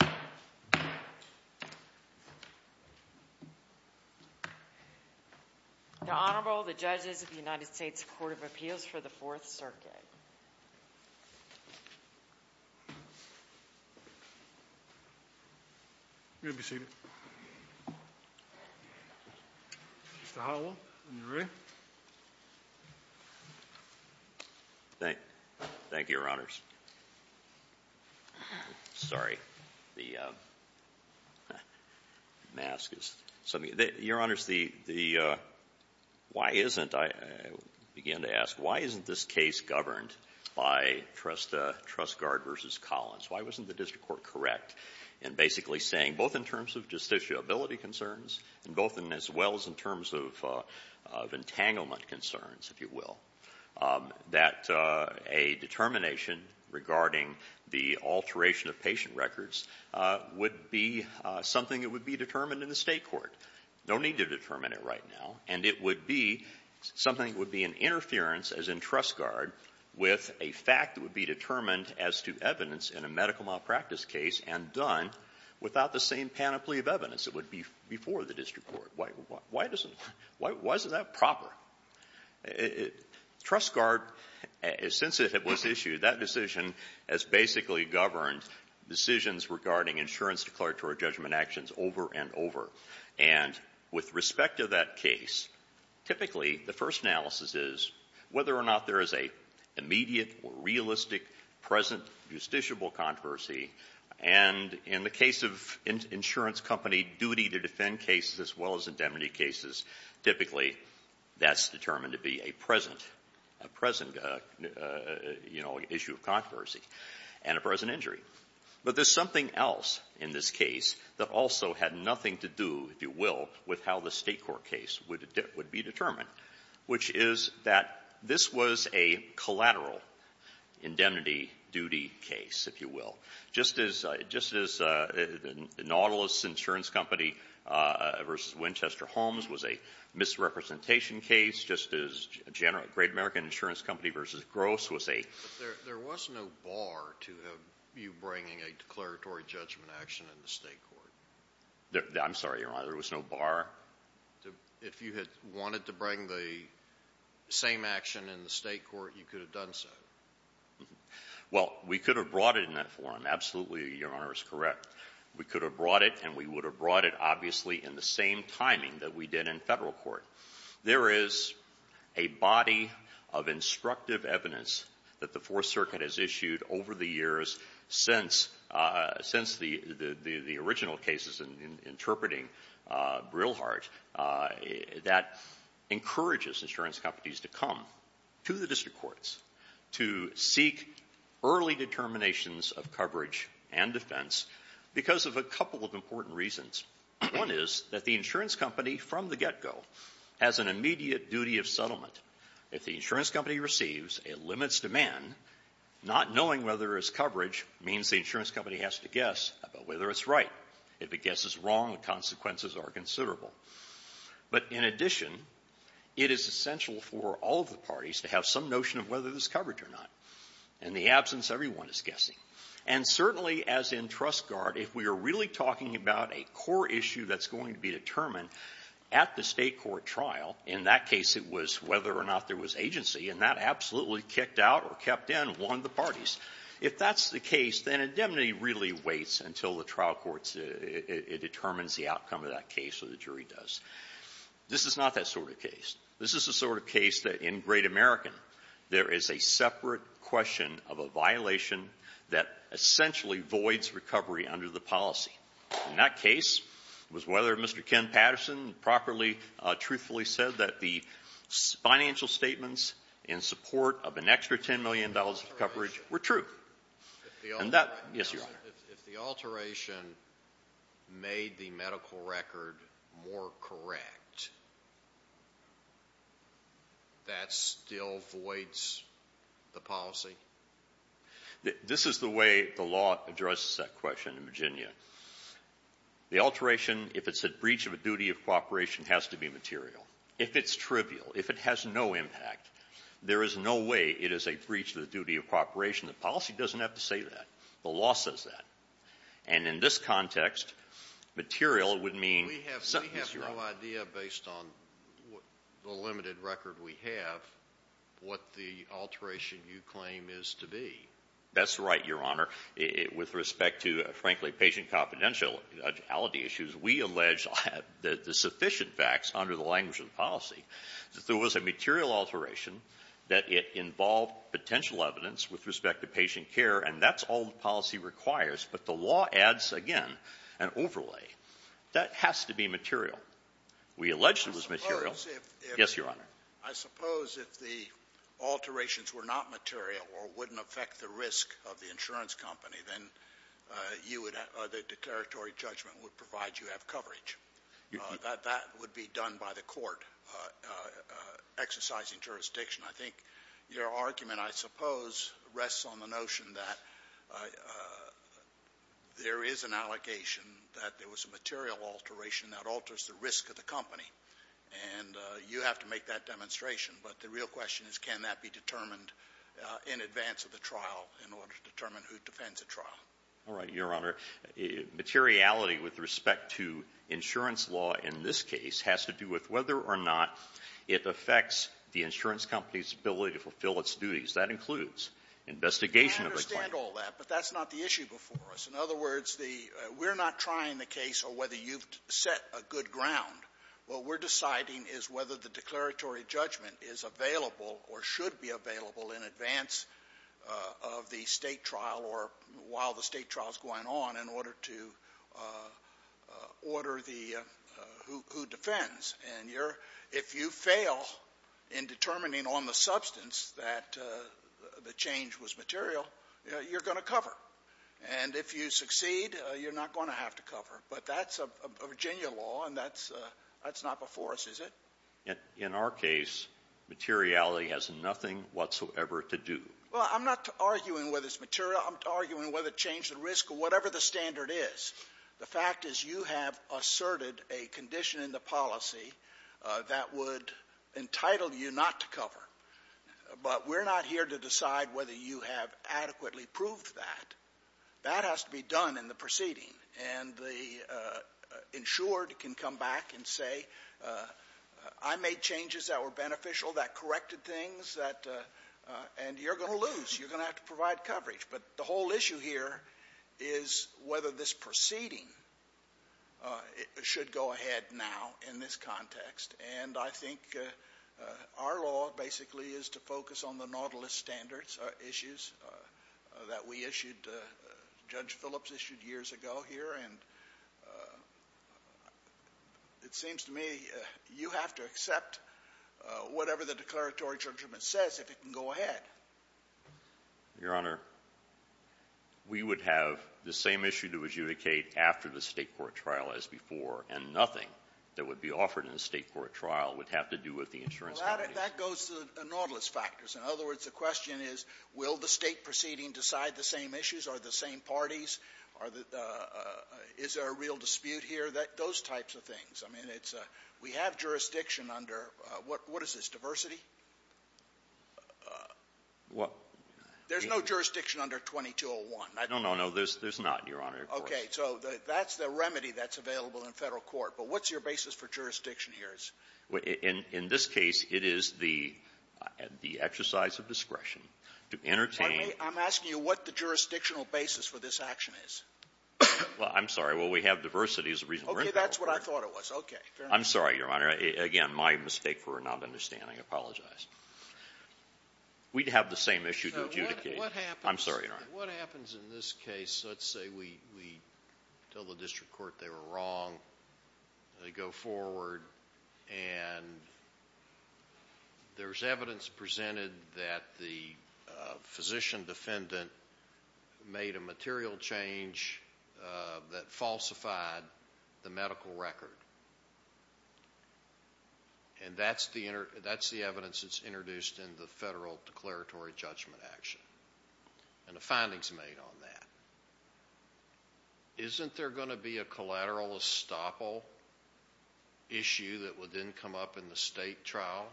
The Honorable, the Judges of the United States Court of Appeals for the Fourth Circuit. You may be seated. Mr. Howell, are you ready? Thank you, Your Honors. Sorry, the mask is... Your Honors, why isn't, I began to ask, why isn't this case governed by Trust Guard v. Collins? Why wasn't the district court correct in basically saying, both in terms of justiciability concerns and both in, as well as in terms of entanglement concerns, if you will, that a determination regarding the alteration of patient records would be something that would be determined in the State court. No need to determine it right now. And it would be something that would be an interference, as in Trust Guard, with a fact that would be determined as to evidence in a medical malpractice case and done without the same panoply of evidence that would be before the district court. Why doesn't, why isn't that proper? Trust Guard, since it was issued, that decision has basically governed decisions regarding insurance declaratory judgment actions over and over. And with respect to that case, typically the first analysis is whether or not there is an immediate, realistic, present, justiciable controversy. And in the case of insurance company duty to defend cases, as well as indemnity cases, typically that's determined to be a present, a present, you know, issue of controversy and a present injury. But there's something else in this case that also had nothing to do, if you will, with how the State court case would be determined, which is that this was a collateral indemnity duty case, if you will. Just as Nautilus Insurance Company v. Winchester Holmes was a misrepresentation case, just as Great American Insurance Company v. Gross was a… But there was no bar to you bringing a declaratory judgment action in the State court. I'm sorry, Your Honor, there was no bar? If you had wanted to bring the same action in the State court, you could have done so. Well, we could have brought it in that forum. Absolutely, Your Honor, is correct. We could have brought it and we would have brought it, obviously, in the same timing that we did in Federal court. However, there is a body of instructive evidence that the Fourth Circuit has issued over the years since the original cases in interpreting Brilhart that encourages insurance companies to come to the district courts to seek early determinations of coverage and defense because of a couple of important reasons. One is that the insurance company from the get-go has an immediate duty of settlement. If the insurance company receives a limits demand, not knowing whether there is coverage means the insurance company has to guess about whether it's right. If it guesses wrong, the consequences are considerable. But in addition, it is essential for all of the parties to have some notion of whether there's coverage or not. In the absence, everyone is guessing. And certainly, as in Trust Guard, if we are really talking about a core issue that's going to be determined at the state court trial, in that case it was whether or not there was agency, and that absolutely kicked out or kept in one of the parties, if that's the case, then indemnity really waits until the trial court determines the outcome of that case or the jury does. This is not that sort of case. This is the sort of case that, in Great American, there is a separate question of a violation that essentially voids recovery under the policy. In that case, it was whether Mr. Ken Patterson properly, truthfully said that the financial statements in support of an extra $10 million of coverage were true. Yes, Your Honor. If the alteration made the medical record more correct, that still voids the policy? This is the way the law addresses that question in Virginia. The alteration, if it's a breach of a duty of cooperation, has to be material. If it's trivial, if it has no impact, there is no way it is a breach of the duty of cooperation. The policy doesn't have to say that. The law says that. And in this context, material would mean something else. We have no idea, based on the limited record we have, what the alteration you claim is to be. That's right, Your Honor. With respect to, frankly, patient confidentiality issues, we allege the sufficient facts under the language of the policy that there was a material alteration that it involved potential evidence with respect to patient care. And that's all the policy requires. But the law adds, again, an overlay. That has to be material. We allege it was material. Yes, Your Honor. I suppose if the alterations were not material or wouldn't affect the risk of the insurance company, then you would have the declaratory judgment would provide you have coverage. That would be done by the court exercising jurisdiction. I think your argument, I suppose, rests on the notion that there is an allegation that there was a material alteration that alters the risk of the company. And you have to make that demonstration. But the real question is, can that be determined in advance of the trial in order to determine who defends the trial? All right, Your Honor. Materiality with respect to insurance law in this case has to do with whether or not it affects the insurance company's ability to fulfill its duties. That includes investigation of the claim. I understand all that, but that's not the issue before us. In other words, we're not trying the case on whether you've set a good ground. What we're deciding is whether the declaratory judgment is available or should be available in advance of the State trial or while the State trial is going on in order to order who defends. And if you fail in determining on the substance that the change was material, you're going to cover. And if you succeed, you're not going to have to cover. But that's Virginia law, and that's not before us, is it? In our case, materiality has nothing whatsoever to do. Well, I'm not arguing whether it's material. I'm arguing whether it changed the risk or whatever the standard is. The fact is you have asserted a condition in the policy that would entitle you not to cover. But we're not here to decide whether you have adequately proved that. That has to be done in the proceeding. And the insured can come back and say, I made changes that were beneficial, that corrected things, and you're going to lose. You're going to have to provide coverage. But the whole issue here is whether this proceeding should go ahead now in this context. And I think our law basically is to focus on the nautilus standards issues that we issued, Judge Phillips issued years ago here. And it seems to me you have to accept whatever the declaratory judgment says if it can go ahead. Your Honor, we would have the same issue to adjudicate after the State court trial as before. And nothing that would be offered in the State court trial would have to do with the insurance company. Well, that goes to the nautilus factors. In other words, the question is, will the State proceeding decide the same issues? Are the same parties? Are the – is there a real dispute here? Those types of things. I mean, it's a – we have jurisdiction under – what is this, diversity? There's no jurisdiction under 2201. No, no, no. There's not, Your Honor, of course. Okay. So that's the remedy that's available in Federal court. But what's your basis for jurisdiction here? In this case, it is the – the exercise of discretion to entertain – I'm asking you what the jurisdictional basis for this action is. Well, I'm sorry. Well, we have diversity as a reason. Okay. That's what I thought it was. Okay. Fair enough. I'm sorry, Your Honor. Again, my mistake for not understanding. I apologize. We'd have the same issue to adjudicate. I'm sorry, Your Honor. What happens in this case? Let's say we tell the district court they were wrong, they go forward, and there's evidence presented that the physician defendant made a material change that falsified the medical record. And that's the evidence that's introduced in the Federal declaratory judgment action. And the findings made on that. Isn't there going to be a collateral estoppel issue that would then come up in the state trial?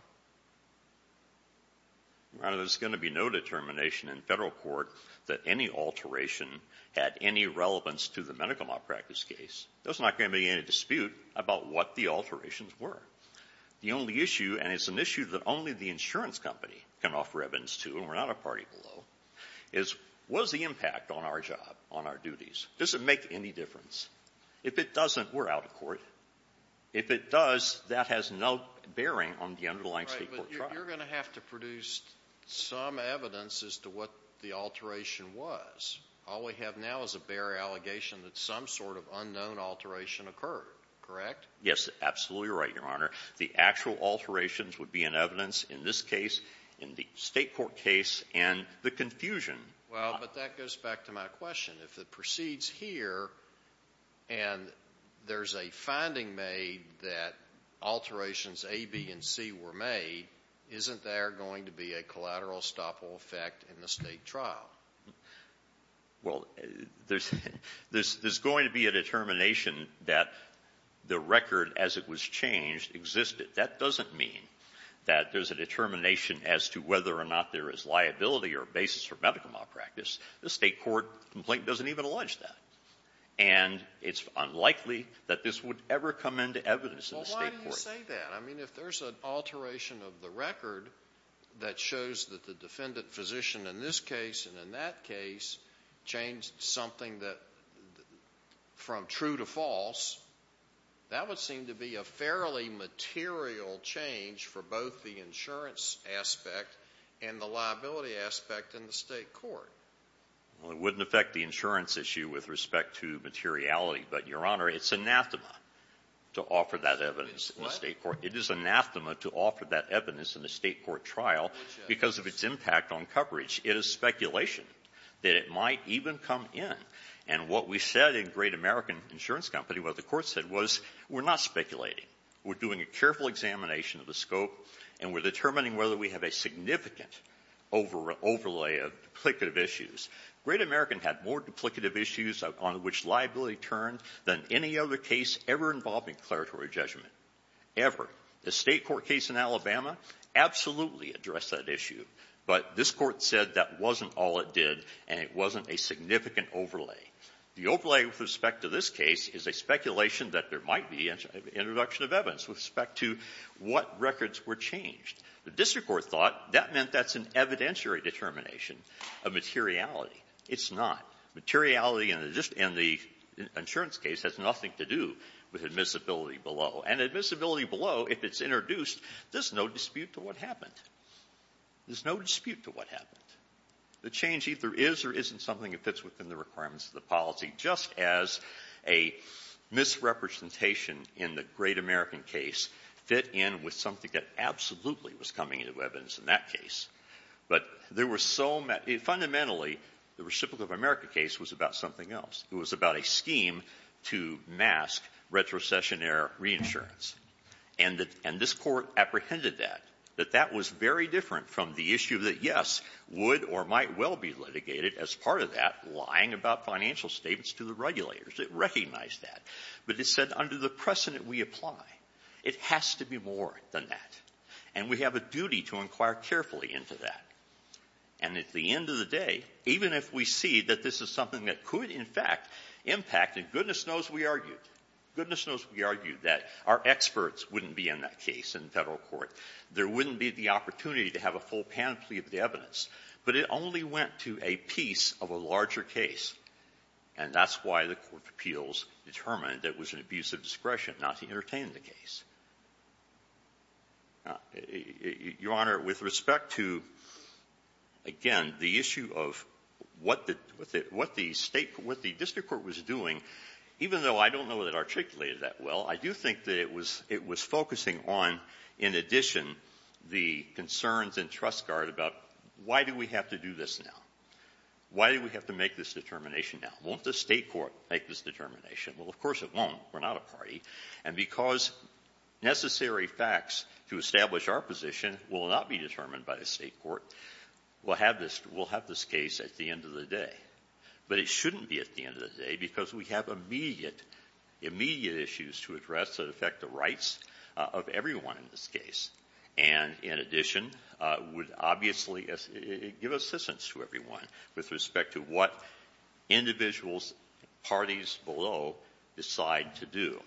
Your Honor, there's going to be no determination in Federal court that any alteration had any relevance to the medical malpractice case. There's not going to be any dispute about what the alterations were. The only issue, and it's an issue that only the insurance company can offer evidence to, and we're not a party below, is what is the impact on our job, on our duties? Does it make any difference? If it doesn't, we're out of court. If it does, that has no bearing on the underlying state court trial. Right, but you're going to have to produce some evidence as to what the alteration was. All we have now is a bare allegation that some sort of unknown alteration occurred. Correct? Yes, absolutely right, Your Honor. The actual alterations would be in evidence in this case, in the state court case, and the confusion. Well, but that goes back to my question. If it proceeds here and there's a finding made that alterations A, B, and C were made, isn't there going to be a collateral estoppel effect in the state trial? Well, there's going to be a determination that the record as it was changed existed. That doesn't mean that there's a determination as to whether or not there is liability or basis for medical malpractice. The state court complaint doesn't even allege that. And it's unlikely that this would ever come into evidence in the state court. Well, why do you say that? I mean, if there's an alteration of the record that shows that the defendant physician in this case and in that case changed something from true to false, that would seem to be a fairly material change for both the insurance aspect and the liability aspect in the state court. Well, it wouldn't affect the insurance issue with respect to materiality. But, Your Honor, it's anathema to offer that evidence in the state court. It is what? It is anathema to offer that evidence in the state court trial because of its impact on coverage. It is speculation that it might even come in. And what we said in Great American Insurance Company, what the Court said was, we're not speculating. We're doing a careful examination of the scope, and we're determining whether we have a significant overlay of duplicative issues. Great American had more duplicative issues on which liability turned than any other case ever involving declaratory judgment, ever. The state court case in Alabama absolutely addressed that issue. But this Court said that wasn't all it did, and it wasn't a significant overlay. The overlay with respect to this case is a speculation that there might be introduction of evidence with respect to what records were changed. The district court thought that meant that's an evidentiary determination of materiality. It's not. Materiality in the insurance case has nothing to do with admissibility below. And admissibility below, if it's introduced, there's no dispute to what happened. There's no dispute to what happened. The change either is or isn't something that fits within the requirements of the policy, just as a misrepresentation in the Great American case fit in with something that absolutely was coming into evidence in that case. But there were so many — fundamentally, the Reciprocal of America case was about something else. It was about a scheme to mask retrocessionary reinsurance. And this Court apprehended that, that that was very different from the issue that, yes, would or might well be litigated as part of that lying about financial statements to the regulators. It recognized that. But it said under the precedent we apply, it has to be more than that. And we have a duty to inquire carefully into that. And at the end of the day, even if we see that this is something that could, that our experts wouldn't be in that case in Federal court, there wouldn't be the opportunity to have a full panoply of the evidence. But it only went to a piece of a larger case. And that's why the Court of Appeals determined it was an abuse of discretion not to entertain the case. Your Honor, with respect to, again, the issue of what the — what the State — what the district court was doing, even though I don't know that it articulated that well, I do think that it was — it was focusing on, in addition, the concerns in Trust Guard about why do we have to do this now? Why do we have to make this determination now? Won't the State court make this determination? Well, of course it won't. We're not a party. And because necessary facts to establish our position will not be determined by the State court, we'll have this — we'll This shouldn't be at the end of the day because we have immediate, immediate issues to address that affect the rights of everyone in this case and, in addition, would obviously give assistance to everyone with respect to what individuals, parties below, decide to do.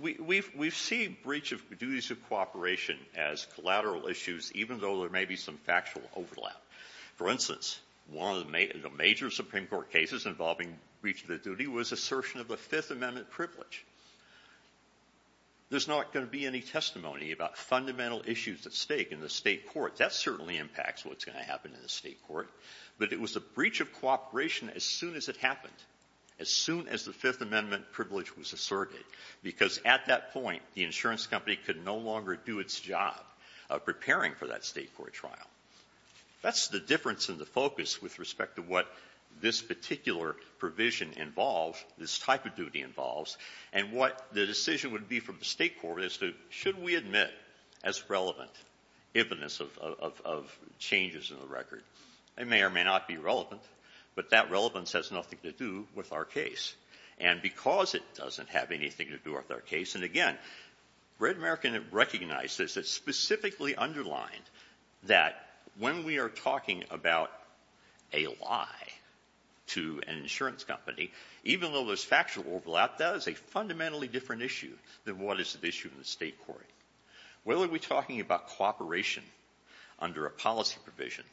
We've — we've seen breach of duties of cooperation as collateral issues, even though there may be some factual overlap. For instance, one of the — the major Supreme Court cases involving breach of the duty was assertion of the Fifth Amendment privilege. There's not going to be any testimony about fundamental issues at stake in the State court. That certainly impacts what's going to happen in the State court. But it was a breach of cooperation as soon as it happened, as soon as the Fifth Amendment privilege was asserted, because at that point, the insurance company could no longer do its job of preparing for that State court trial. That's the difference in the focus with respect to what this particular provision involves, this type of duty involves, and what the decision would be from the State court as to should we admit as relevant evidence of — of changes in the record. It may or may not be relevant, but that would be a different question to do with our case. And again, Red American recognizes that specifically underlined that when we are talking about a lie to an insurance company, even though there's factual overlap, that is a fundamentally different issue than what is at issue in the State court. Whether we're talking about cooperation under a policy provision,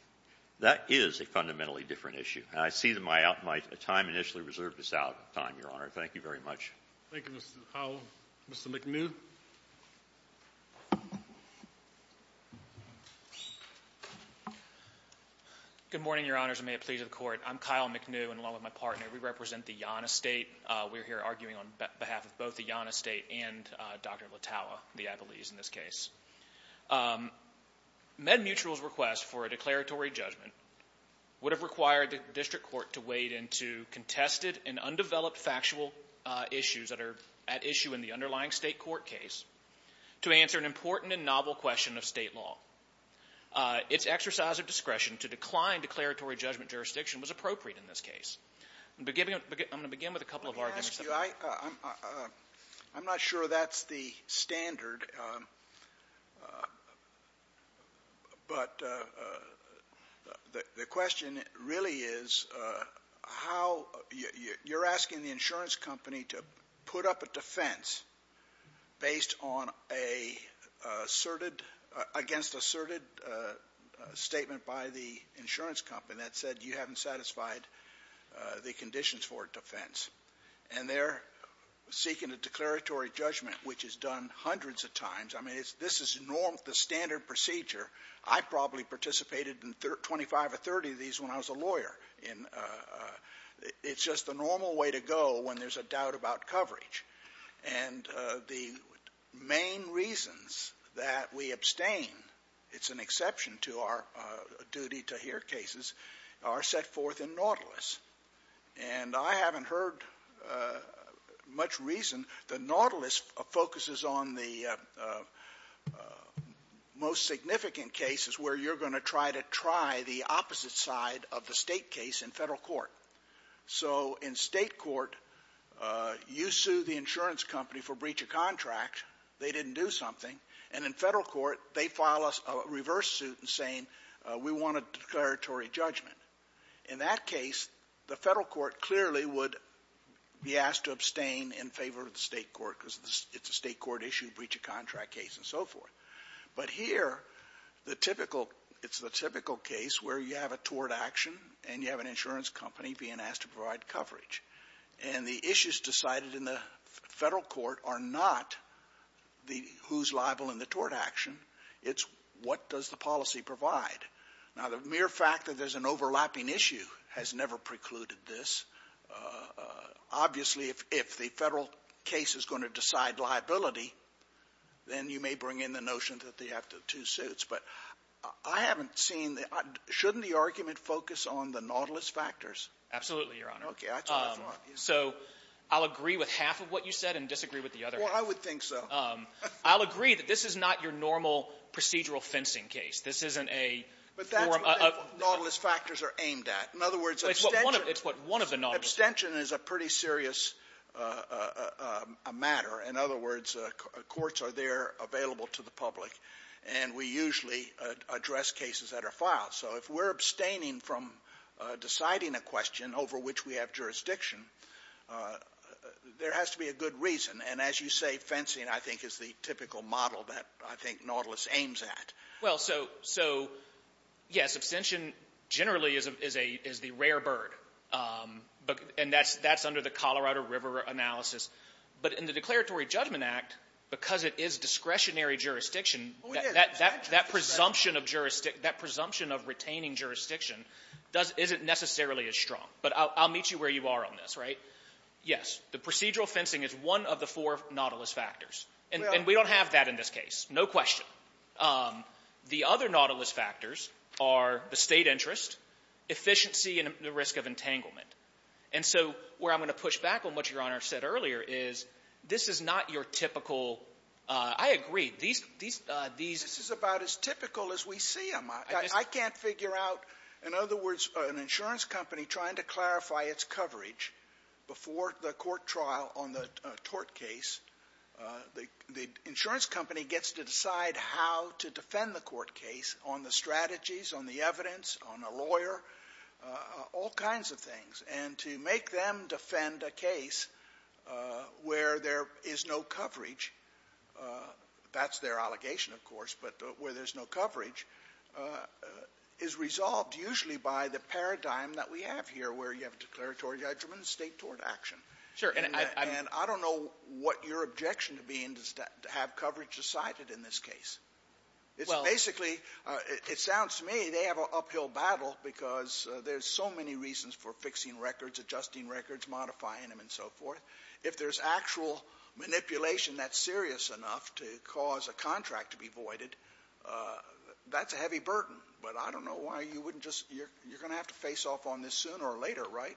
that is a fundamentally different issue. And I see that my — my time initially reserved is out of time, Your Honor. Thank you very much. Thank you, Mr. Powell. Mr. McNew. Good morning, Your Honors, and may it please the Court. I'm Kyle McNew, and along with my partner, we represent the Yonah State. We're here arguing on behalf of both the Yonah State and Dr. Latawa, the Ibelese in this case. MedMutual's request for a declaratory judgment would have required the district court to wade into contested and undeveloped factual issues that are at issue in the underlying State court case to answer an important and novel question of State law. Its exercise of discretion to decline declaratory judgment jurisdiction was appropriate in this case. I'm going to begin with a couple of arguments that — I'm not sure that's the standard, but the question really is how — you're asking the insurance company to put up a defense based on a asserted — against asserted statement by the insurance company that said you haven't satisfied the conditions for a defense, and they're seeking a declaratory judgment, which is done hundreds of times. I mean, it's — this is norm — the standard procedure. I probably participated in 25 or 30 of these when I was a lawyer in — it's just the normal way to go when there's a doubt about coverage. And the main reasons that we abstain — it's an exception to our duty to hear cases that are set forth in Nautilus. And I haven't heard much reason that Nautilus focuses on the most significant cases where you're going to try to try the opposite side of the State case in Federal court. So in State court, you sue the insurance company for breach of contract, they didn't do something, and in Federal court, they file a reverse suit saying we want a declaratory judgment. In that case, the Federal court clearly would be asked to abstain in favor of the State court because it's a State court issue, breach of contract case and so forth. But here, the typical — it's the typical case where you have a tort action and you have an insurance company being asked to provide coverage. And the issues decided in the Federal court are not the — who's liable in the tort action. It's what does the policy provide. Now, the mere fact that there's an overlapping issue has never precluded this. Obviously, if the Federal case is going to decide liability, then you may bring in the notion that they have the two suits. But I haven't seen the — shouldn't the argument focus on the Nautilus factors? Absolutely, Your Honor. Okay. That's what I thought. So I'll agree with half of what you said and disagree with the other half. Well, I would think so. I'll agree that this is not your normal procedural fencing case. This isn't a — But that's what the Nautilus factors are aimed at. In other words, abstention — It's what one of the Nautilus — Abstention is a pretty serious matter. In other words, courts are there available to the public, and we usually address cases that are filed. So if we're abstaining from deciding a question over which we have jurisdiction, there has to be a good reason. And as you say, fencing, I think, is the typical model that I think Nautilus aims at. Well, so, yes, abstention generally is the rare bird. And that's under the Colorado River analysis. But in the Declaratory Judgment Act, because it is discretionary jurisdiction, that presumption of — that presumption of retaining jurisdiction isn't necessarily as strong. But I'll meet you where you are on this, right? Yes. The procedural fencing is one of the four Nautilus factors. And we don't have that in this case, no question. The other Nautilus factors are the State interest, efficiency, and the risk of entanglement. And so where I'm going to push back on what Your Honor said earlier is this is not your typical — I agree. These — This is about as typical as we see them. I can't figure out — in other words, an insurance company trying to clarify its coverage before the court trial on the tort case, the insurance company gets to decide how to defend the court case on the strategies, on the evidence, on a lawyer, all kinds of things. And to make them defend a case where there is no coverage, that's their allegation, of course, but where there's no coverage, is resolved usually by the paradigm that we have here, where you have declaratory judgment and State tort action. Sure. And I — And I don't know what your objection to being — to have coverage decided in this case. It's basically — it sounds to me they have an uphill battle because there's so many reasons for fixing records, adjusting records, modifying them, and so forth. If there's actual manipulation that's serious enough to cause a contract to be voided, that's a heavy burden. But I don't know why you wouldn't just — you're going to have to face off on this sooner or later, right?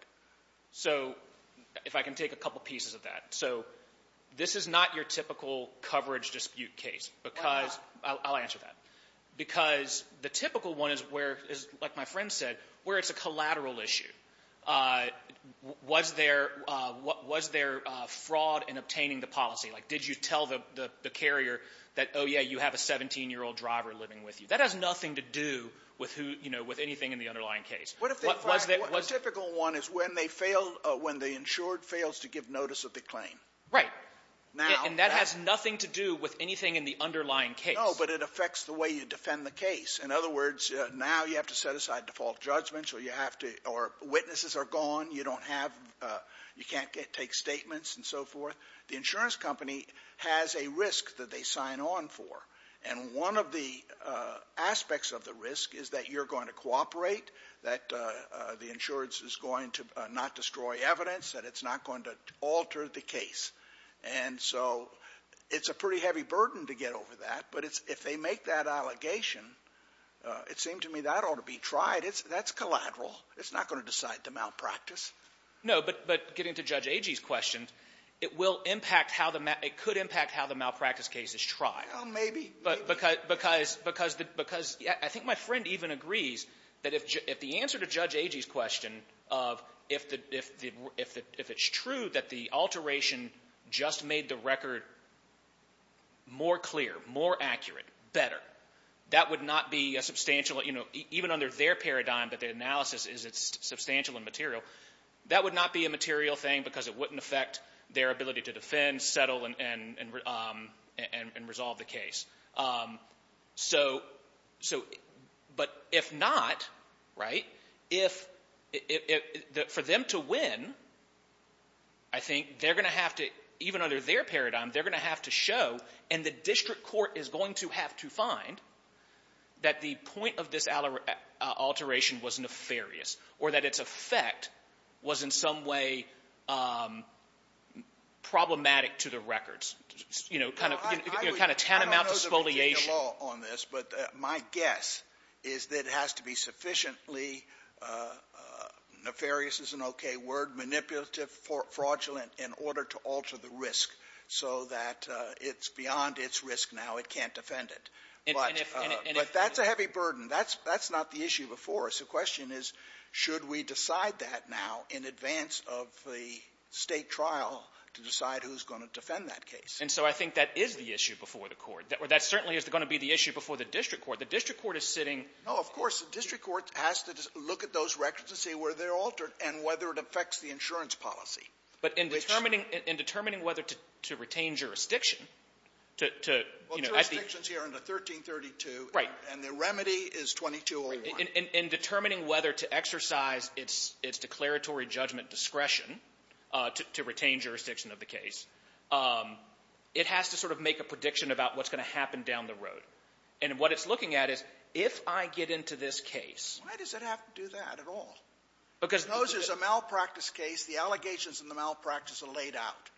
So if I can take a couple pieces of that. So this is not your typical coverage dispute case because — Why not? I'll answer that. Because the typical one is where — is, like my friend said, where there's a collateral issue, was there — was there fraud in obtaining the policy? Like, did you tell the carrier that, oh, yeah, you have a 17-year-old driver living with you? That has nothing to do with who — you know, with anything in the underlying case. Was there — A typical one is when they fail — when the insured fails to give notice of the claim. Right. And that has nothing to do with anything in the underlying case. No, but it affects the way you defend the case. In other words, now you have to set aside default judgments or you have to — or witnesses are gone. You don't have — you can't take statements and so forth. The insurance company has a risk that they sign on for. And one of the aspects of the risk is that you're going to cooperate, that the insurance is going to not destroy evidence, that it's not going to alter the case. And so it's a pretty heavy burden to get over that, but it's — if they make that allegation, it seemed to me that ought to be tried. That's collateral. It's not going to decide the malpractice. No, but getting to Judge Agee's question, it will impact how the — it could impact how the malpractice case is tried. Well, maybe. Because — because — because — I think my friend even agrees that if the answer to Judge Agee's question of if the — if the — if it's true that the alteration just made the record more clear, more accurate, better, that would not be a substantial — you know, even under their paradigm that the analysis is substantial and material, that would not be a material thing because it wouldn't affect their ability to defend, settle, and — and resolve the case. So — so — but if not, right, if — for them to win, I think they're going to have to — even under their paradigm, they're going to have to show, and the district court is going to have to find, that the point of this alteration was nefarious or that its effect was in some way problematic to the records. You know, kind of — you know, kind of tantamount to spoliation. I don't know the legal law on this, but my guess is that it has to be sufficiently — nefarious is an okay word — manipulative, fraudulent in order to alter the risk so that it's beyond its risk now. It can't defend it. And if — But that's a heavy burden. That's — that's not the issue before us. The question is, should we decide that now in advance of the State trial to decide who's going to defend that case? And so I think that is the issue before the Court. That certainly is going to be the issue before the district court. The district court is sitting — No, of course. The district court has to look at those records and see where they're altered and whether it affects the insurance policy. But in determining — in determining whether to retain jurisdiction, to — Well, jurisdiction is here under 1332. Right. And the remedy is 2201. In determining whether to exercise its — its declaratory judgment discretion to — to retain jurisdiction of the case, it has to sort of make a prediction about what's going to happen down the road. And what it's looking at is, if I get into this case — Why does it have to do that at all? Because those — Because those is a malpractice case. The allegations in the malpractice are laid out.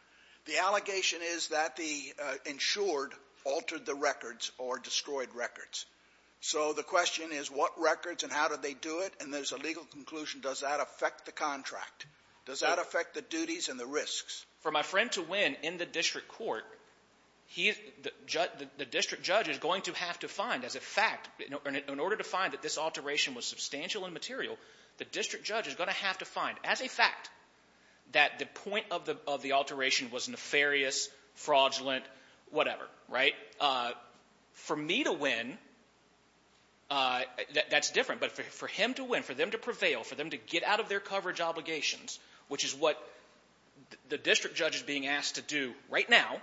The allegation is that the insured altered the records or destroyed records. So the question is, what records and how did they do it? And there's a legal conclusion, does that affect the contract? Does that affect the duties and the risks? For my friend to win in the district court, he — the district judge is going to have to find, as a fact — in order to find that this alteration was substantial and material, the district judge is going to have to find, as a fact, that the point of the — of the alteration was nefarious, fraudulent, whatever. Right? For me to win, that's different. But for him to win, for them to prevail, for them to get out of their coverage obligations, which is what the district judge is being asked to do right now,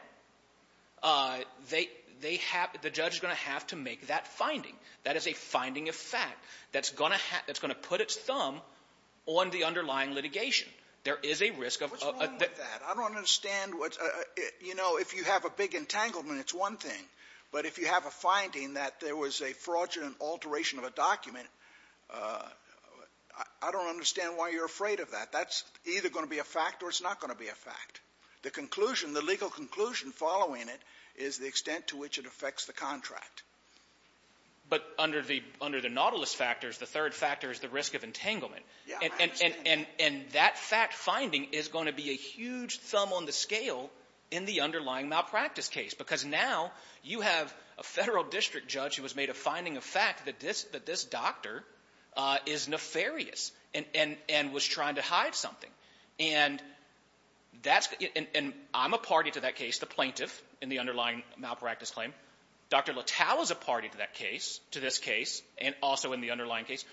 they have — the judge is going to have to make that finding. That is a finding of fact that's going to put its thumb on the underlying litigation. There is a risk of — What's wrong with that? I don't understand what's — you know, if you have a big entanglement, it's one thing. But if you have a finding that there was a fraudulent alteration of a document, I don't understand why you're afraid of that. That's either going to be a fact or it's not going to be a fact. The conclusion, the legal conclusion following it is the extent to which it affects the contract. But under the — under the nautilus factors, the third factor is the risk of entanglement. Yeah, I understand. And that fact-finding is going to be a huge thumb on the scale in the underlying malpractice case, because now you have a Federal district judge who has made a finding of fact that this doctor is nefarious and was trying to hide something. And that's — and I'm a party to that case, the plaintiff, in the underlying malpractice claim. Dr. Littal is a party to that case, to this case, and also in the underlying case.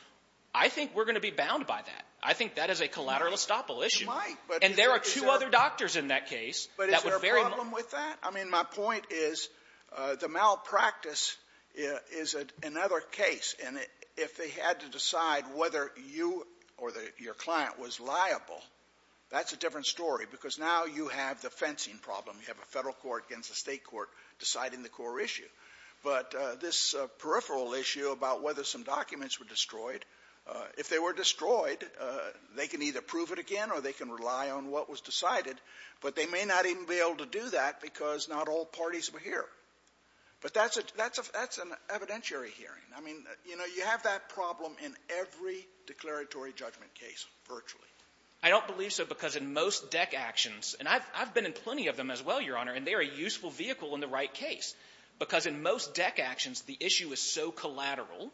I think we're going to be bound by that. I think that is a collateral estoppel issue. You might, but — And there are two other doctors in that case. But is there a problem with that? I mean, my point is the malpractice is another case. And if they had to decide whether you or your client was liable, that's a different story, because now you have the fencing problem. You have a Federal court against a State court deciding the core issue. But this peripheral issue about whether some documents were destroyed, if they were destroyed, they can either prove it again or they can rely on what was decided. But they may not even be able to do that because not all parties were here. But that's a — that's an evidentiary hearing. I mean, you know, you have that problem in every declaratory judgment case virtually. I don't believe so, because in most DEC actions — and I've been in plenty of them as well, Your Honor, and they're a useful vehicle in the right case. Because in most DEC actions, the issue is so collateral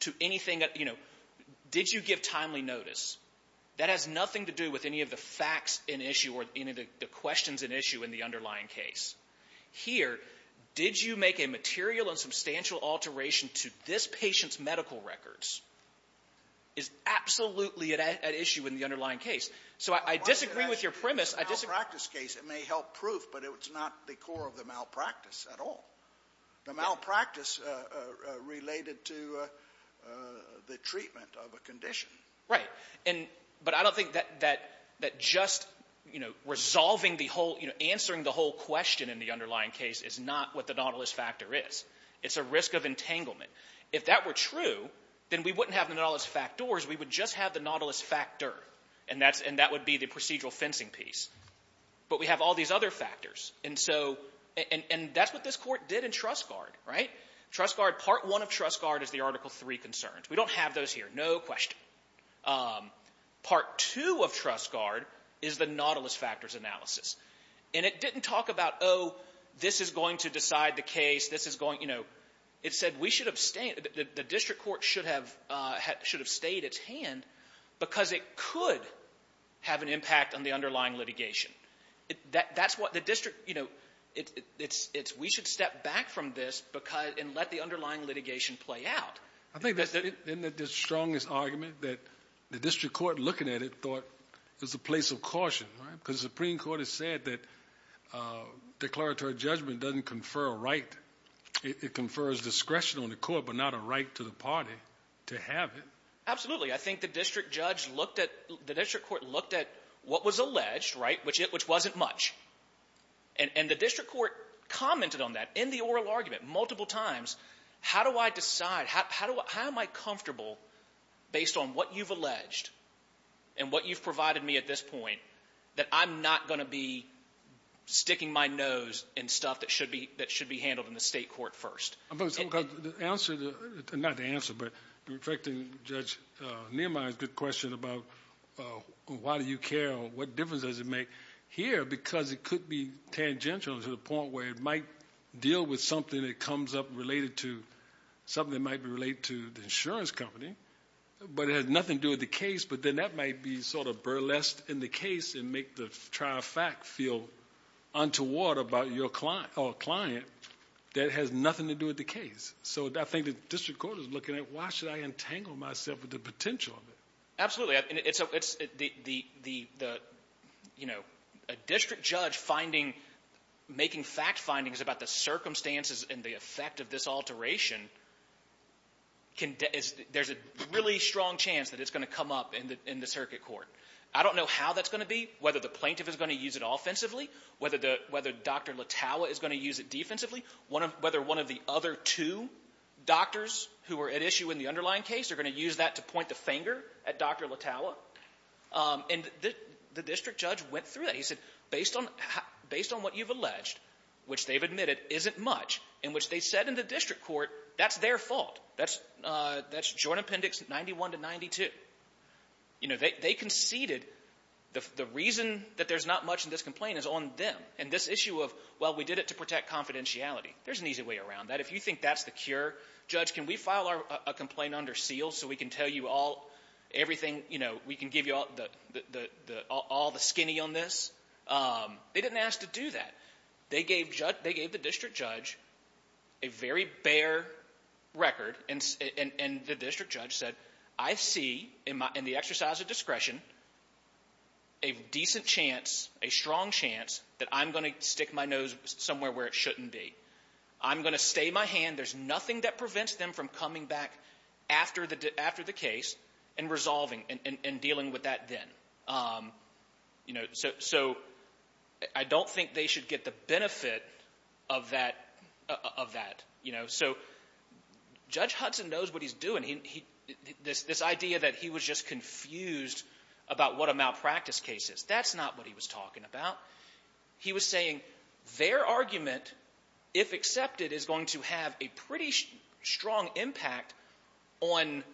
to anything that — you know, did you give timely notice? That has nothing to do with any of the facts in issue or any of the questions in issue in the underlying case. Here, did you make a material and substantial alteration to this patient's medical records, is absolutely at issue in the underlying case. So I disagree with your premise. I disagree. Scalia. It's a malpractice case. It may help proof, but it's not the core of the malpractice at all. The malpractice related to the treatment of a condition. Right. But I don't think that just, you know, resolving the whole — you know, answering the whole question in the underlying case is not what the nautilus factor is. It's a risk of entanglement. If that were true, then we wouldn't have the nautilus factors. We would just have the nautilus factor, and that would be the procedural fencing piece. But we have all these other factors, and so — and that's what this Court did in Trussgaard, right? Trussgaard — Part I of Trussgaard is the Article III concerns. We don't have those here. No question. Part II of Trussgaard is the nautilus factors analysis. And it didn't talk about, oh, this is going to decide the case. This is going — you know, it said we should have — the district court should have stayed its hand because it could have an impact on the underlying litigation. That's what the district — you know, it's we should step back from this and let the underlying litigation play out. I think that's — isn't that the strongest argument, that the district court, looking at it, thought it was a place of caution, right? Because the Supreme Court has said that declaratory judgment doesn't confer a right. It confers discretion on the court but not a right to the party to have it. Absolutely. I think the district judge looked at — the district court looked at what was alleged, right, which wasn't much. And the district court commented on that in the oral argument multiple times. How do I decide? How am I comfortable, based on what you've alleged and what you've provided me at this point, that I'm not going to be sticking my nose in stuff that should be handled in the state court first? The answer to — not the answer, but reflecting Judge Niemeyer's good question about why do you care or what difference does it make here because it could be related to something that might be related to the insurance company but it has nothing to do with the case but then that might be sort of burlesque in the case and make the trial fact feel untoward about your client or a client that has nothing to do with the case. So I think the district court is looking at why should I entangle myself with the potential of it? Absolutely. It's the — you know, a district judge finding — making fact findings about the alteration can — there's a really strong chance that it's going to come up in the circuit court. I don't know how that's going to be, whether the plaintiff is going to use it offensively, whether Dr. Latawa is going to use it defensively, whether one of the other two doctors who are at issue in the underlying case are going to use that to point the finger at Dr. Latawa. And the district judge went through that. He said, based on what you've alleged, which they've admitted isn't much, and which they said in the district court, that's their fault. That's Joint Appendix 91 to 92. You know, they conceded the reason that there's not much in this complaint is on them and this issue of, well, we did it to protect confidentiality. There's an easy way around that. If you think that's the cure, judge, can we file a complaint under seal so we can tell you all — everything, you know, we can give you all the skinny on this? They didn't ask to do that. They gave the district judge a very bare record, and the district judge said, I see in the exercise of discretion a decent chance, a strong chance that I'm going to stick my nose somewhere where it shouldn't be. I'm going to stay my hand. There's nothing that prevents them from coming back after the case and resolving and dealing with that then. You know, so I don't think they should get the benefit of that, you know. So Judge Hudson knows what he's doing. This idea that he was just confused about what a malpractice case is, that's not what he was talking about. He was saying their argument, if accepted, is going to have a pretty strong impact on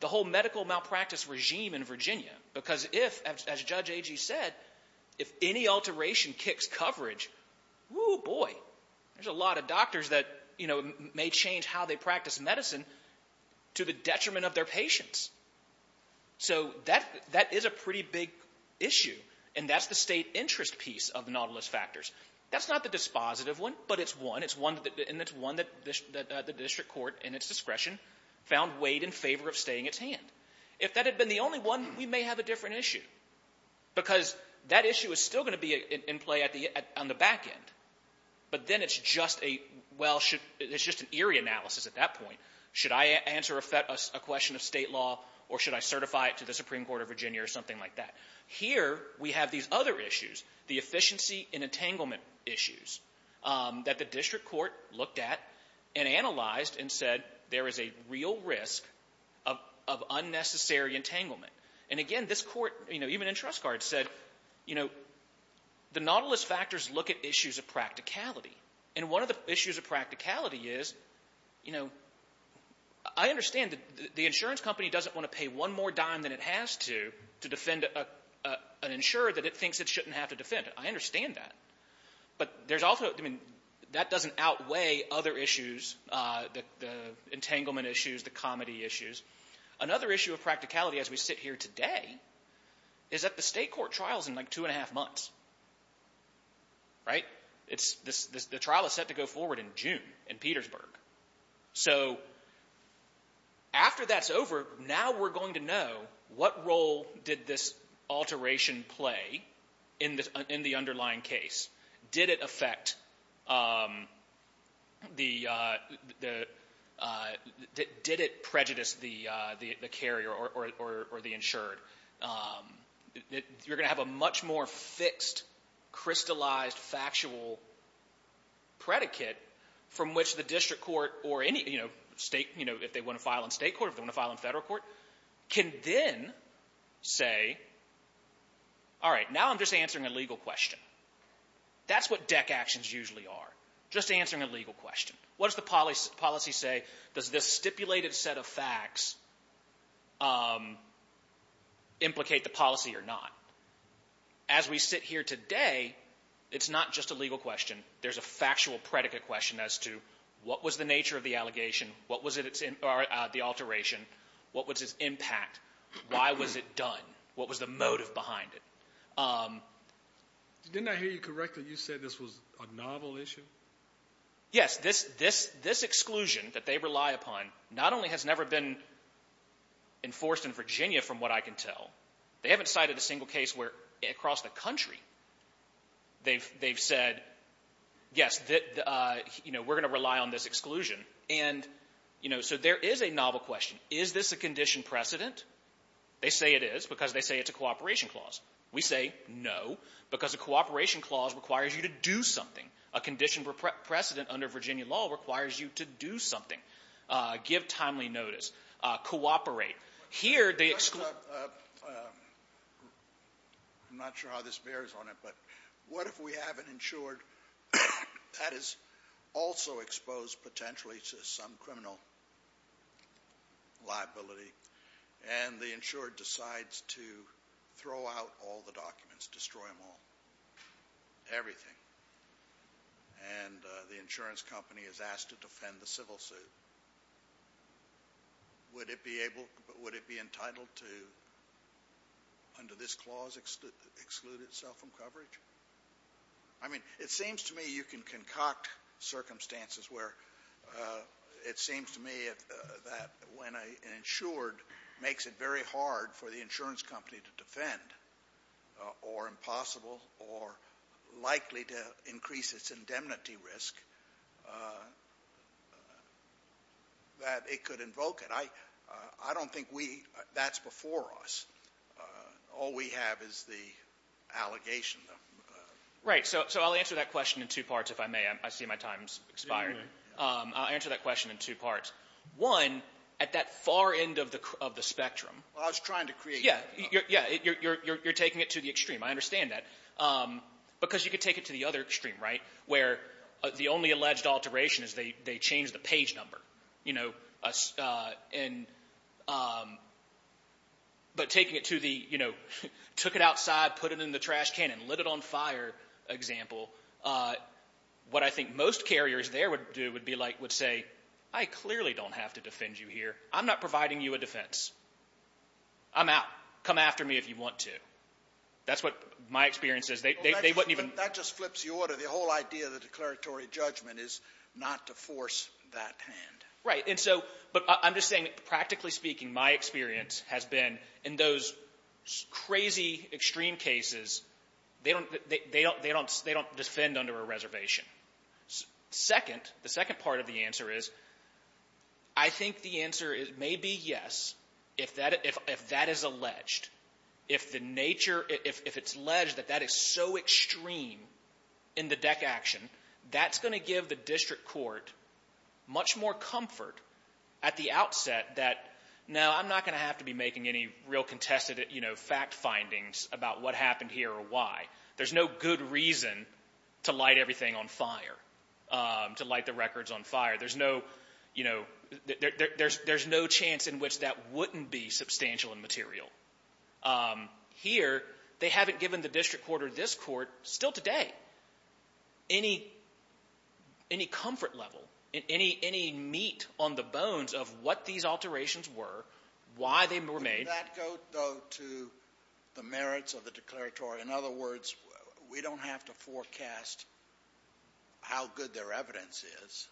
the whole medical malpractice regime in Virginia. Because if, as Judge Agee said, if any alteration kicks coverage, whoo, boy, there's a lot of doctors that, you know, may change how they practice medicine to the detriment of their patients. So that is a pretty big issue, and that's the state interest piece of the nautilus factors. That's not the dispositive one, but it's one, and it's one that the district court, in its discretion, found weighed in favor of staying its hand. If that had been the only one, we may have a different issue. Because that issue is still going to be in play on the back end, but then it's just an eerie analysis at that point. Should I answer a question of state law or should I certify it to the Supreme Court of Virginia or something like that? Here we have these other issues, the efficiency and entanglement issues, that the district court looked at and analyzed and said there is a real risk of unnecessary entanglement. And, again, this Court, you know, even in Trust Card, said, you know, the nautilus factors look at issues of practicality. And one of the issues of practicality is, you know, I understand that the insurance company doesn't want to pay one more dime than it has to to defend an insurer that it thinks it shouldn't have to defend. I understand that. But there's also, I mean, that doesn't outweigh other issues, the entanglement issues, the comedy issues. Another issue of practicality, as we sit here today, is that the state court trial is in, like, two and a half months. Right? The trial is set to go forward in June in Petersburg. So after that's over, now we're going to know what role did this alteration play in the underlying case? Did it affect the, did it prejudice the carrier or the insured? You're going to have a much more fixed, crystallized, factual predicate from which the district court or any, you know, state, you know, if they want to file in state court, if they want to file in federal court, can then say, all right, now I'm just answering a legal question. That's what deck actions usually are, just answering a legal question. What does the policy say? Does this stipulated set of facts implicate the policy or not? As we sit here today, it's not just a legal question. There's a factual predicate question as to what was the nature of the alteration, what was its impact, why was it done, what was the motive behind it. Didn't I hear you correctly? You said this was a novel issue? Yes. This exclusion that they rely upon not only has never been enforced in Virginia, from what I can tell, they haven't cited a single case where across the country they've said, yes, you know, we're going to rely on this exclusion. And, you know, so there is a novel question. Is this a condition precedent? They say it is because they say it's a cooperation clause. We say no, because a cooperation clause requires you to do something. A condition precedent under Virginia law requires you to do something, give timely notice, cooperate. Here, the exclusion of the law. I'm not sure how this bears on it, but what if we haven't ensured that is also exposed potentially to some criminal liability and the insurer decides to throw out all the documents, destroy them all, everything, and the insurance company is asked to defend the civil suit? Would it be entitled to, under this clause, exclude itself from coverage? I mean, it seems to me you can concoct circumstances where it seems to me that when an insured makes it very hard for the insurance company to defend or impossible or likely to increase its indemnity risk, that it could invoke it. I don't think that's before us. All we have is the allegation. Right. So I'll answer that question in two parts, if I may. I see my time's expired. I'll answer that question in two parts. One, at that far end of the spectrum. Well, I was trying to create that. Yeah. Yeah. You're taking it to the extreme. I understand that. Because you could take it to the other extreme, right, where the only alleged alteration is they change the page number. But taking it to the took-it-outside, put-it-in-the-trash-can-and-lit-it-on-fire example, what I think most carriers there would do would be like would say, I clearly don't have to defend you here. I'm not providing you a defense. I'm out. Come after me if you want to. That's what my experience is. They wouldn't even – That just flips the order. The whole idea of the declaratory judgment is not to force that hand. Right. And so – but I'm just saying, practically speaking, my experience has been in those crazy extreme cases, they don't defend under a reservation. Second, the second part of the answer is I think the answer may be yes if that is alleged, if the nature – if it's alleged that that is so extreme in the deck action, that's going to give the district court much more comfort at the outset that, no, I'm not going to have to be making any real contested fact findings about what happened here or why. There's no good reason to light everything on fire, to light the records on fire. There's no – there's no chance in which that wouldn't be substantial and material. Here, they haven't given the district court or this court, still today, any comfort level, any meat on the bones of what these alterations were, why they were made. Did that go, though, to the merits of the declaratory? In other words, we don't have to forecast how good their evidence is.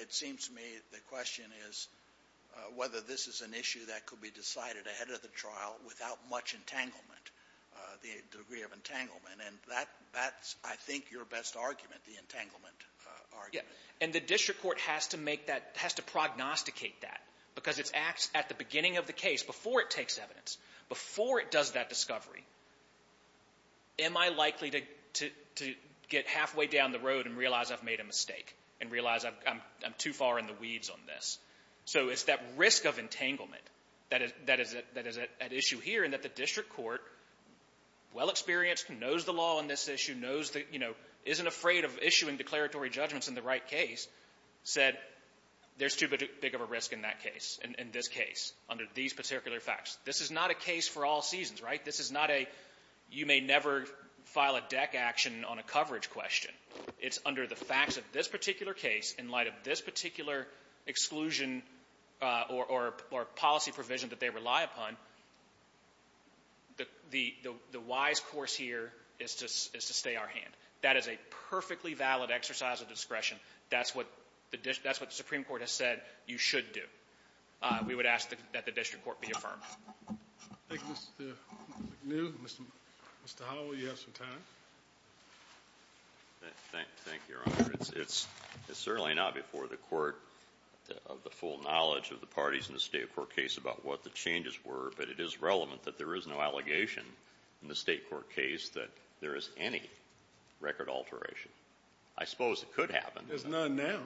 It seems to me the question is whether this is an issue that could be decided ahead of the trial without much entanglement, the degree of entanglement. And that's, I think, your best argument, the entanglement argument. And the district court has to make that – has to prognosticate that, because it acts at the beginning of the case, before it takes evidence, before it does that discovery. Am I likely to get halfway down the road and realize I've made a mistake and realize I'm too far in the weeds on this? So it's that risk of entanglement that is at issue here and that the district court, well-experienced, knows the law on this issue, knows the – you know, isn't afraid of issuing declaratory judgments in the right case, said there's too big of a risk in that case, in this case, under these particular facts. This is not a case for all seasons, right? This is not a you-may-never-file-a-deck-action-on-a-coverage question. It's under the facts of this particular case, in light of this particular exclusion or policy provision that they rely upon, the wise course here is to stay our hand. That is a perfectly valid exercise of discretion. That's what the – that's what the Supreme Court has said you should do. We would ask that the district court be affirmed. Thank you, Mr. McNeill. Mr. Hall, will you have some time? Thank you, Your Honor. It's certainly not before the Court of the full knowledge of the parties in the State court case about what the changes were, but it is relevant that there is no allegation in the State court case that there is any record alteration. I suppose it could happen. There's none now.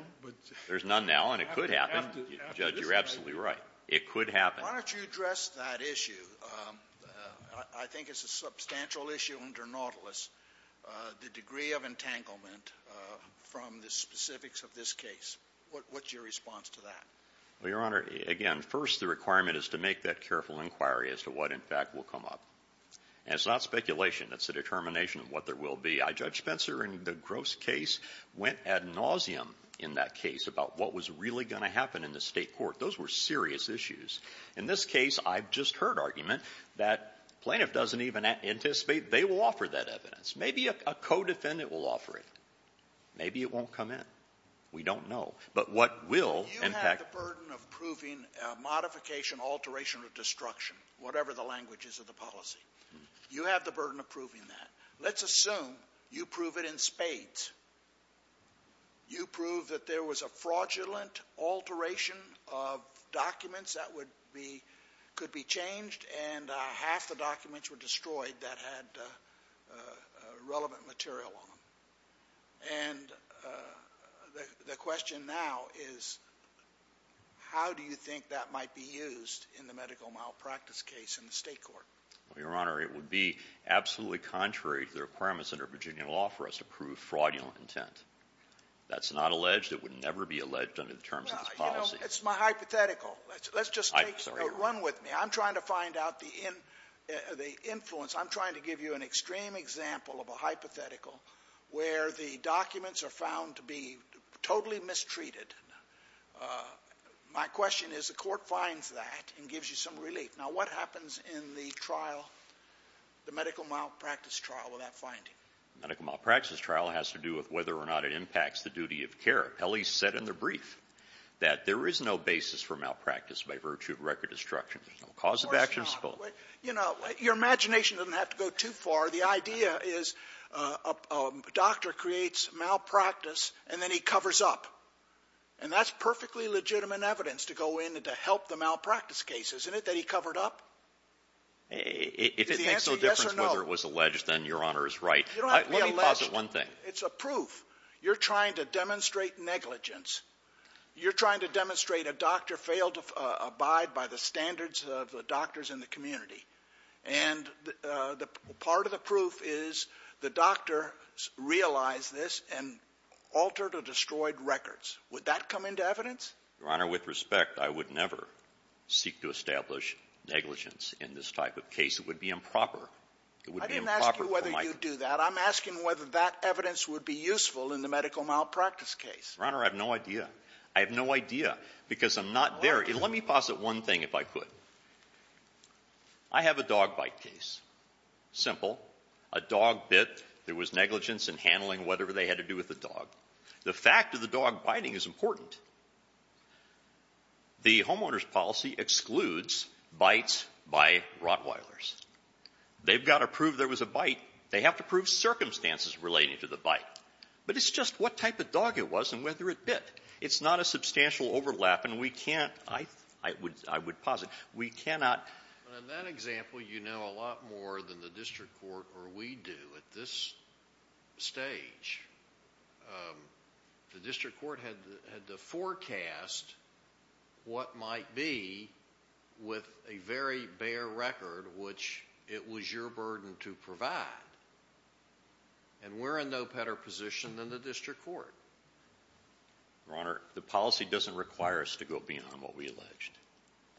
There's none now, and it could happen. Judge, you're absolutely right. It could happen. Why don't you address that issue? I think it's a substantial issue under Nautilus, the degree of entanglement from the specifics of this case. What's your response to that? Well, Your Honor, again, first the requirement is to make that careful inquiry as to what, in fact, will come up. And it's not speculation. It's a determination of what there will be. Judge Spencer, in the Gross case, went ad nauseum in that case about what was really going to happen in the State court. Those were serious issues. In this case, I've just heard argument that plaintiff doesn't even anticipate they will offer that evidence. Maybe a co-defendant will offer it. Maybe it won't come in. We don't know. But what will, in fact — You have the burden of proving modification, alteration, or destruction, whatever the language is of the policy. You have the burden of proving that. Let's assume you prove it in spades. You prove that there was a fraudulent alteration of documents that could be changed and half the documents were destroyed that had relevant material on them. And the question now is how do you think that might be used in the medical malpractice case in the State court? Well, Your Honor, it would be absolutely contrary to the requirements under Virginia law for us to prove fraudulent intent. That's not alleged. It would never be alleged under the terms of this policy. It's my hypothetical. Let's just take a run with me. I'm trying to find out the influence. I'm trying to give you an extreme example of a hypothetical where the documents are found to be totally mistreated. My question is the Court finds that and gives you some relief. Now, what happens in the trial, the medical malpractice trial, with that finding? Medical malpractice trial has to do with whether or not it impacts the duty of care. Pelley said in the brief that there is no basis for malpractice by virtue of record destruction. There's no cause of action. Of course not. You know, your imagination doesn't have to go too far. The idea is a doctor creates malpractice and then he covers up. And that's perfectly legitimate evidence to go in and to help the malpractice case, isn't it, that he covered up? If it makes no difference whether it was alleged, then Your Honor is right. You don't have to be alleged. Let me posit one thing. It's a proof. You're trying to demonstrate negligence. You're trying to demonstrate a doctor failed to abide by the standards of the doctors in the community. And part of the proof is the doctor realized this and altered or destroyed records. Would that come into evidence? Your Honor, with respect, I would never seek to establish negligence in this type of case. It would be improper. It would be improper for my ---- I didn't ask you whether you'd do that. I'm asking whether that evidence would be useful in the medical malpractice case. Your Honor, I have no idea. I have no idea because I'm not there. Let me posit one thing, if I could. I have a dog bite case. Simple. A dog bit. There was negligence in handling whatever they had to do with the dog. The fact of the dog biting is important. The homeowner's policy excludes bites by Rottweilers. They've got to prove there was a bite. They have to prove circumstances relating to the bite. But it's just what type of dog it was and whether it bit. It's not a substantial overlap, and we can't ---- I would ---- I would posit we cannot The district court had to forecast what might be with a very bare record, which it was your burden to provide. And we're in no better position than the district court. Your Honor, the policy doesn't require us to go beyond what we alleged.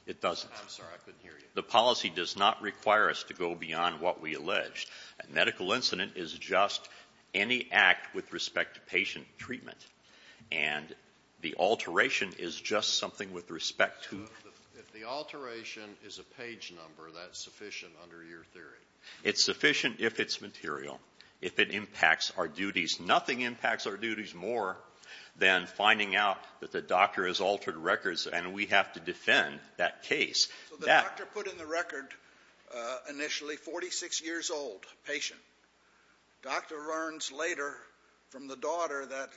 It doesn't. I'm sorry, I couldn't hear you. The policy does not require us to go beyond what we alleged. A medical incident is just any act with respect to patient treatment. And the alteration is just something with respect to ---- So if the alteration is a page number, that's sufficient under your theory? It's sufficient if it's material, if it impacts our duties. Nothing impacts our duties more than finding out that the doctor has altered records, and we have to defend that case. So the doctor put in the record initially 46 years old patient. Doctor learns later from the daughter that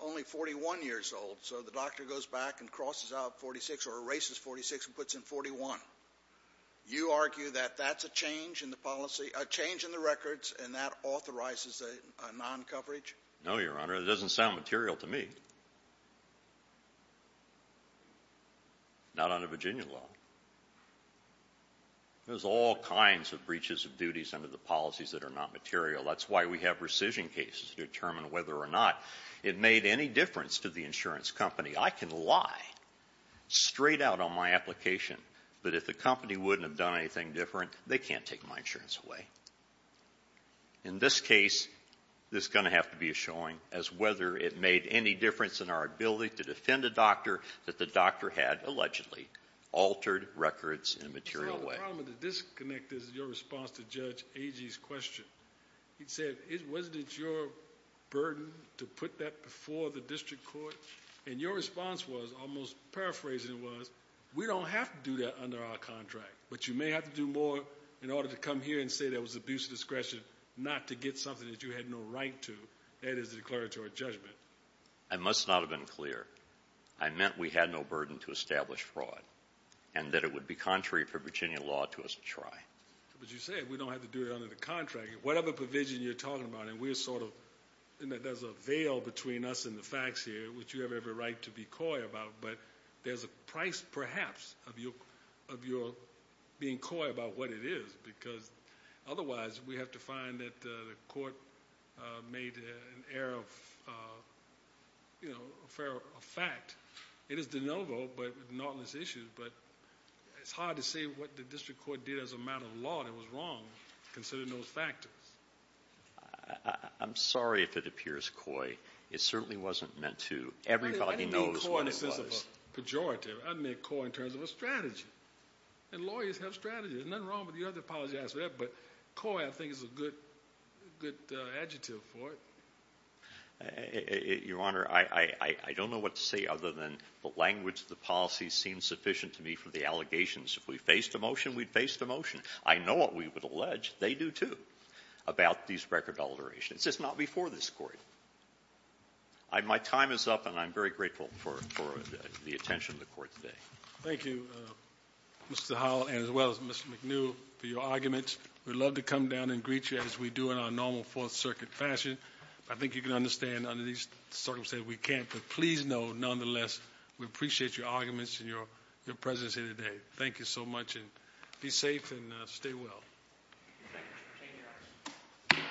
only 41 years old, so the doctor goes back and crosses out 46 or erases 46 and puts in 41. You argue that that's a change in the policy, a change in the records, and that authorizes a non-coverage? No, Your Honor. It doesn't sound material to me. Not under Virginia law. There's all kinds of breaches of duties under the policies that are not material. That's why we have rescission cases to determine whether or not it made any difference to the insurance company. I can lie straight out on my application, but if the company wouldn't have done anything different, they can't take my insurance away. In this case, there's going to have to be a showing as whether it made any difference in our ability to defend a doctor that the doctor had allegedly altered records in a material way. The problem with the disconnect is your response to Judge Agee's question. He said, wasn't it your burden to put that before the district court? And your response was, almost paraphrasing it was, we don't have to do that under our contract, but you may have to do more in order to come here and say there was abuse of discretion not to get something that you had no right to. That is a declaratory judgment. I must not have been clear. I meant we had no burden to establish fraud and that it would be contrary for Virginia law to us to try. But you said we don't have to do it under the contract. Whatever provision you're talking about, and there's a veil between us and the facts here, which you have every right to be coy about, but there's a price, perhaps, of your being coy about what it is because otherwise we have to find that the court made an error of fact. It is de novo, but not in this issue. But it's hard to say what the district court did as a matter of law that was wrong, considering those factors. I'm sorry if it appears coy. It certainly wasn't meant to. Everybody knows what it was. I didn't mean coy in the sense of a pejorative. I meant coy in terms of a strategy. And lawyers have strategies. There's nothing wrong with the other policy answer there, but coy, I think, is a good adjective for it. Your Honor, I don't know what to say other than the language of the policy seems sufficient to me for the allegations. If we faced a motion, we'd face the motion. I know what we would allege. They do, too, about these record alterations. It's just not before this court. My time is up, and I'm very grateful for the attention of the court today. Thank you, Mr. Howell, and as well as Mr. McNew, for your arguments. We'd love to come down and greet you as we do in our normal Fourth Circuit fashion. I think you can understand under these circumstances we can't, but please know, nonetheless, we appreciate your arguments and your presence here today. Thank you so much, and be safe and stay well. Thank you, Mr. Senior.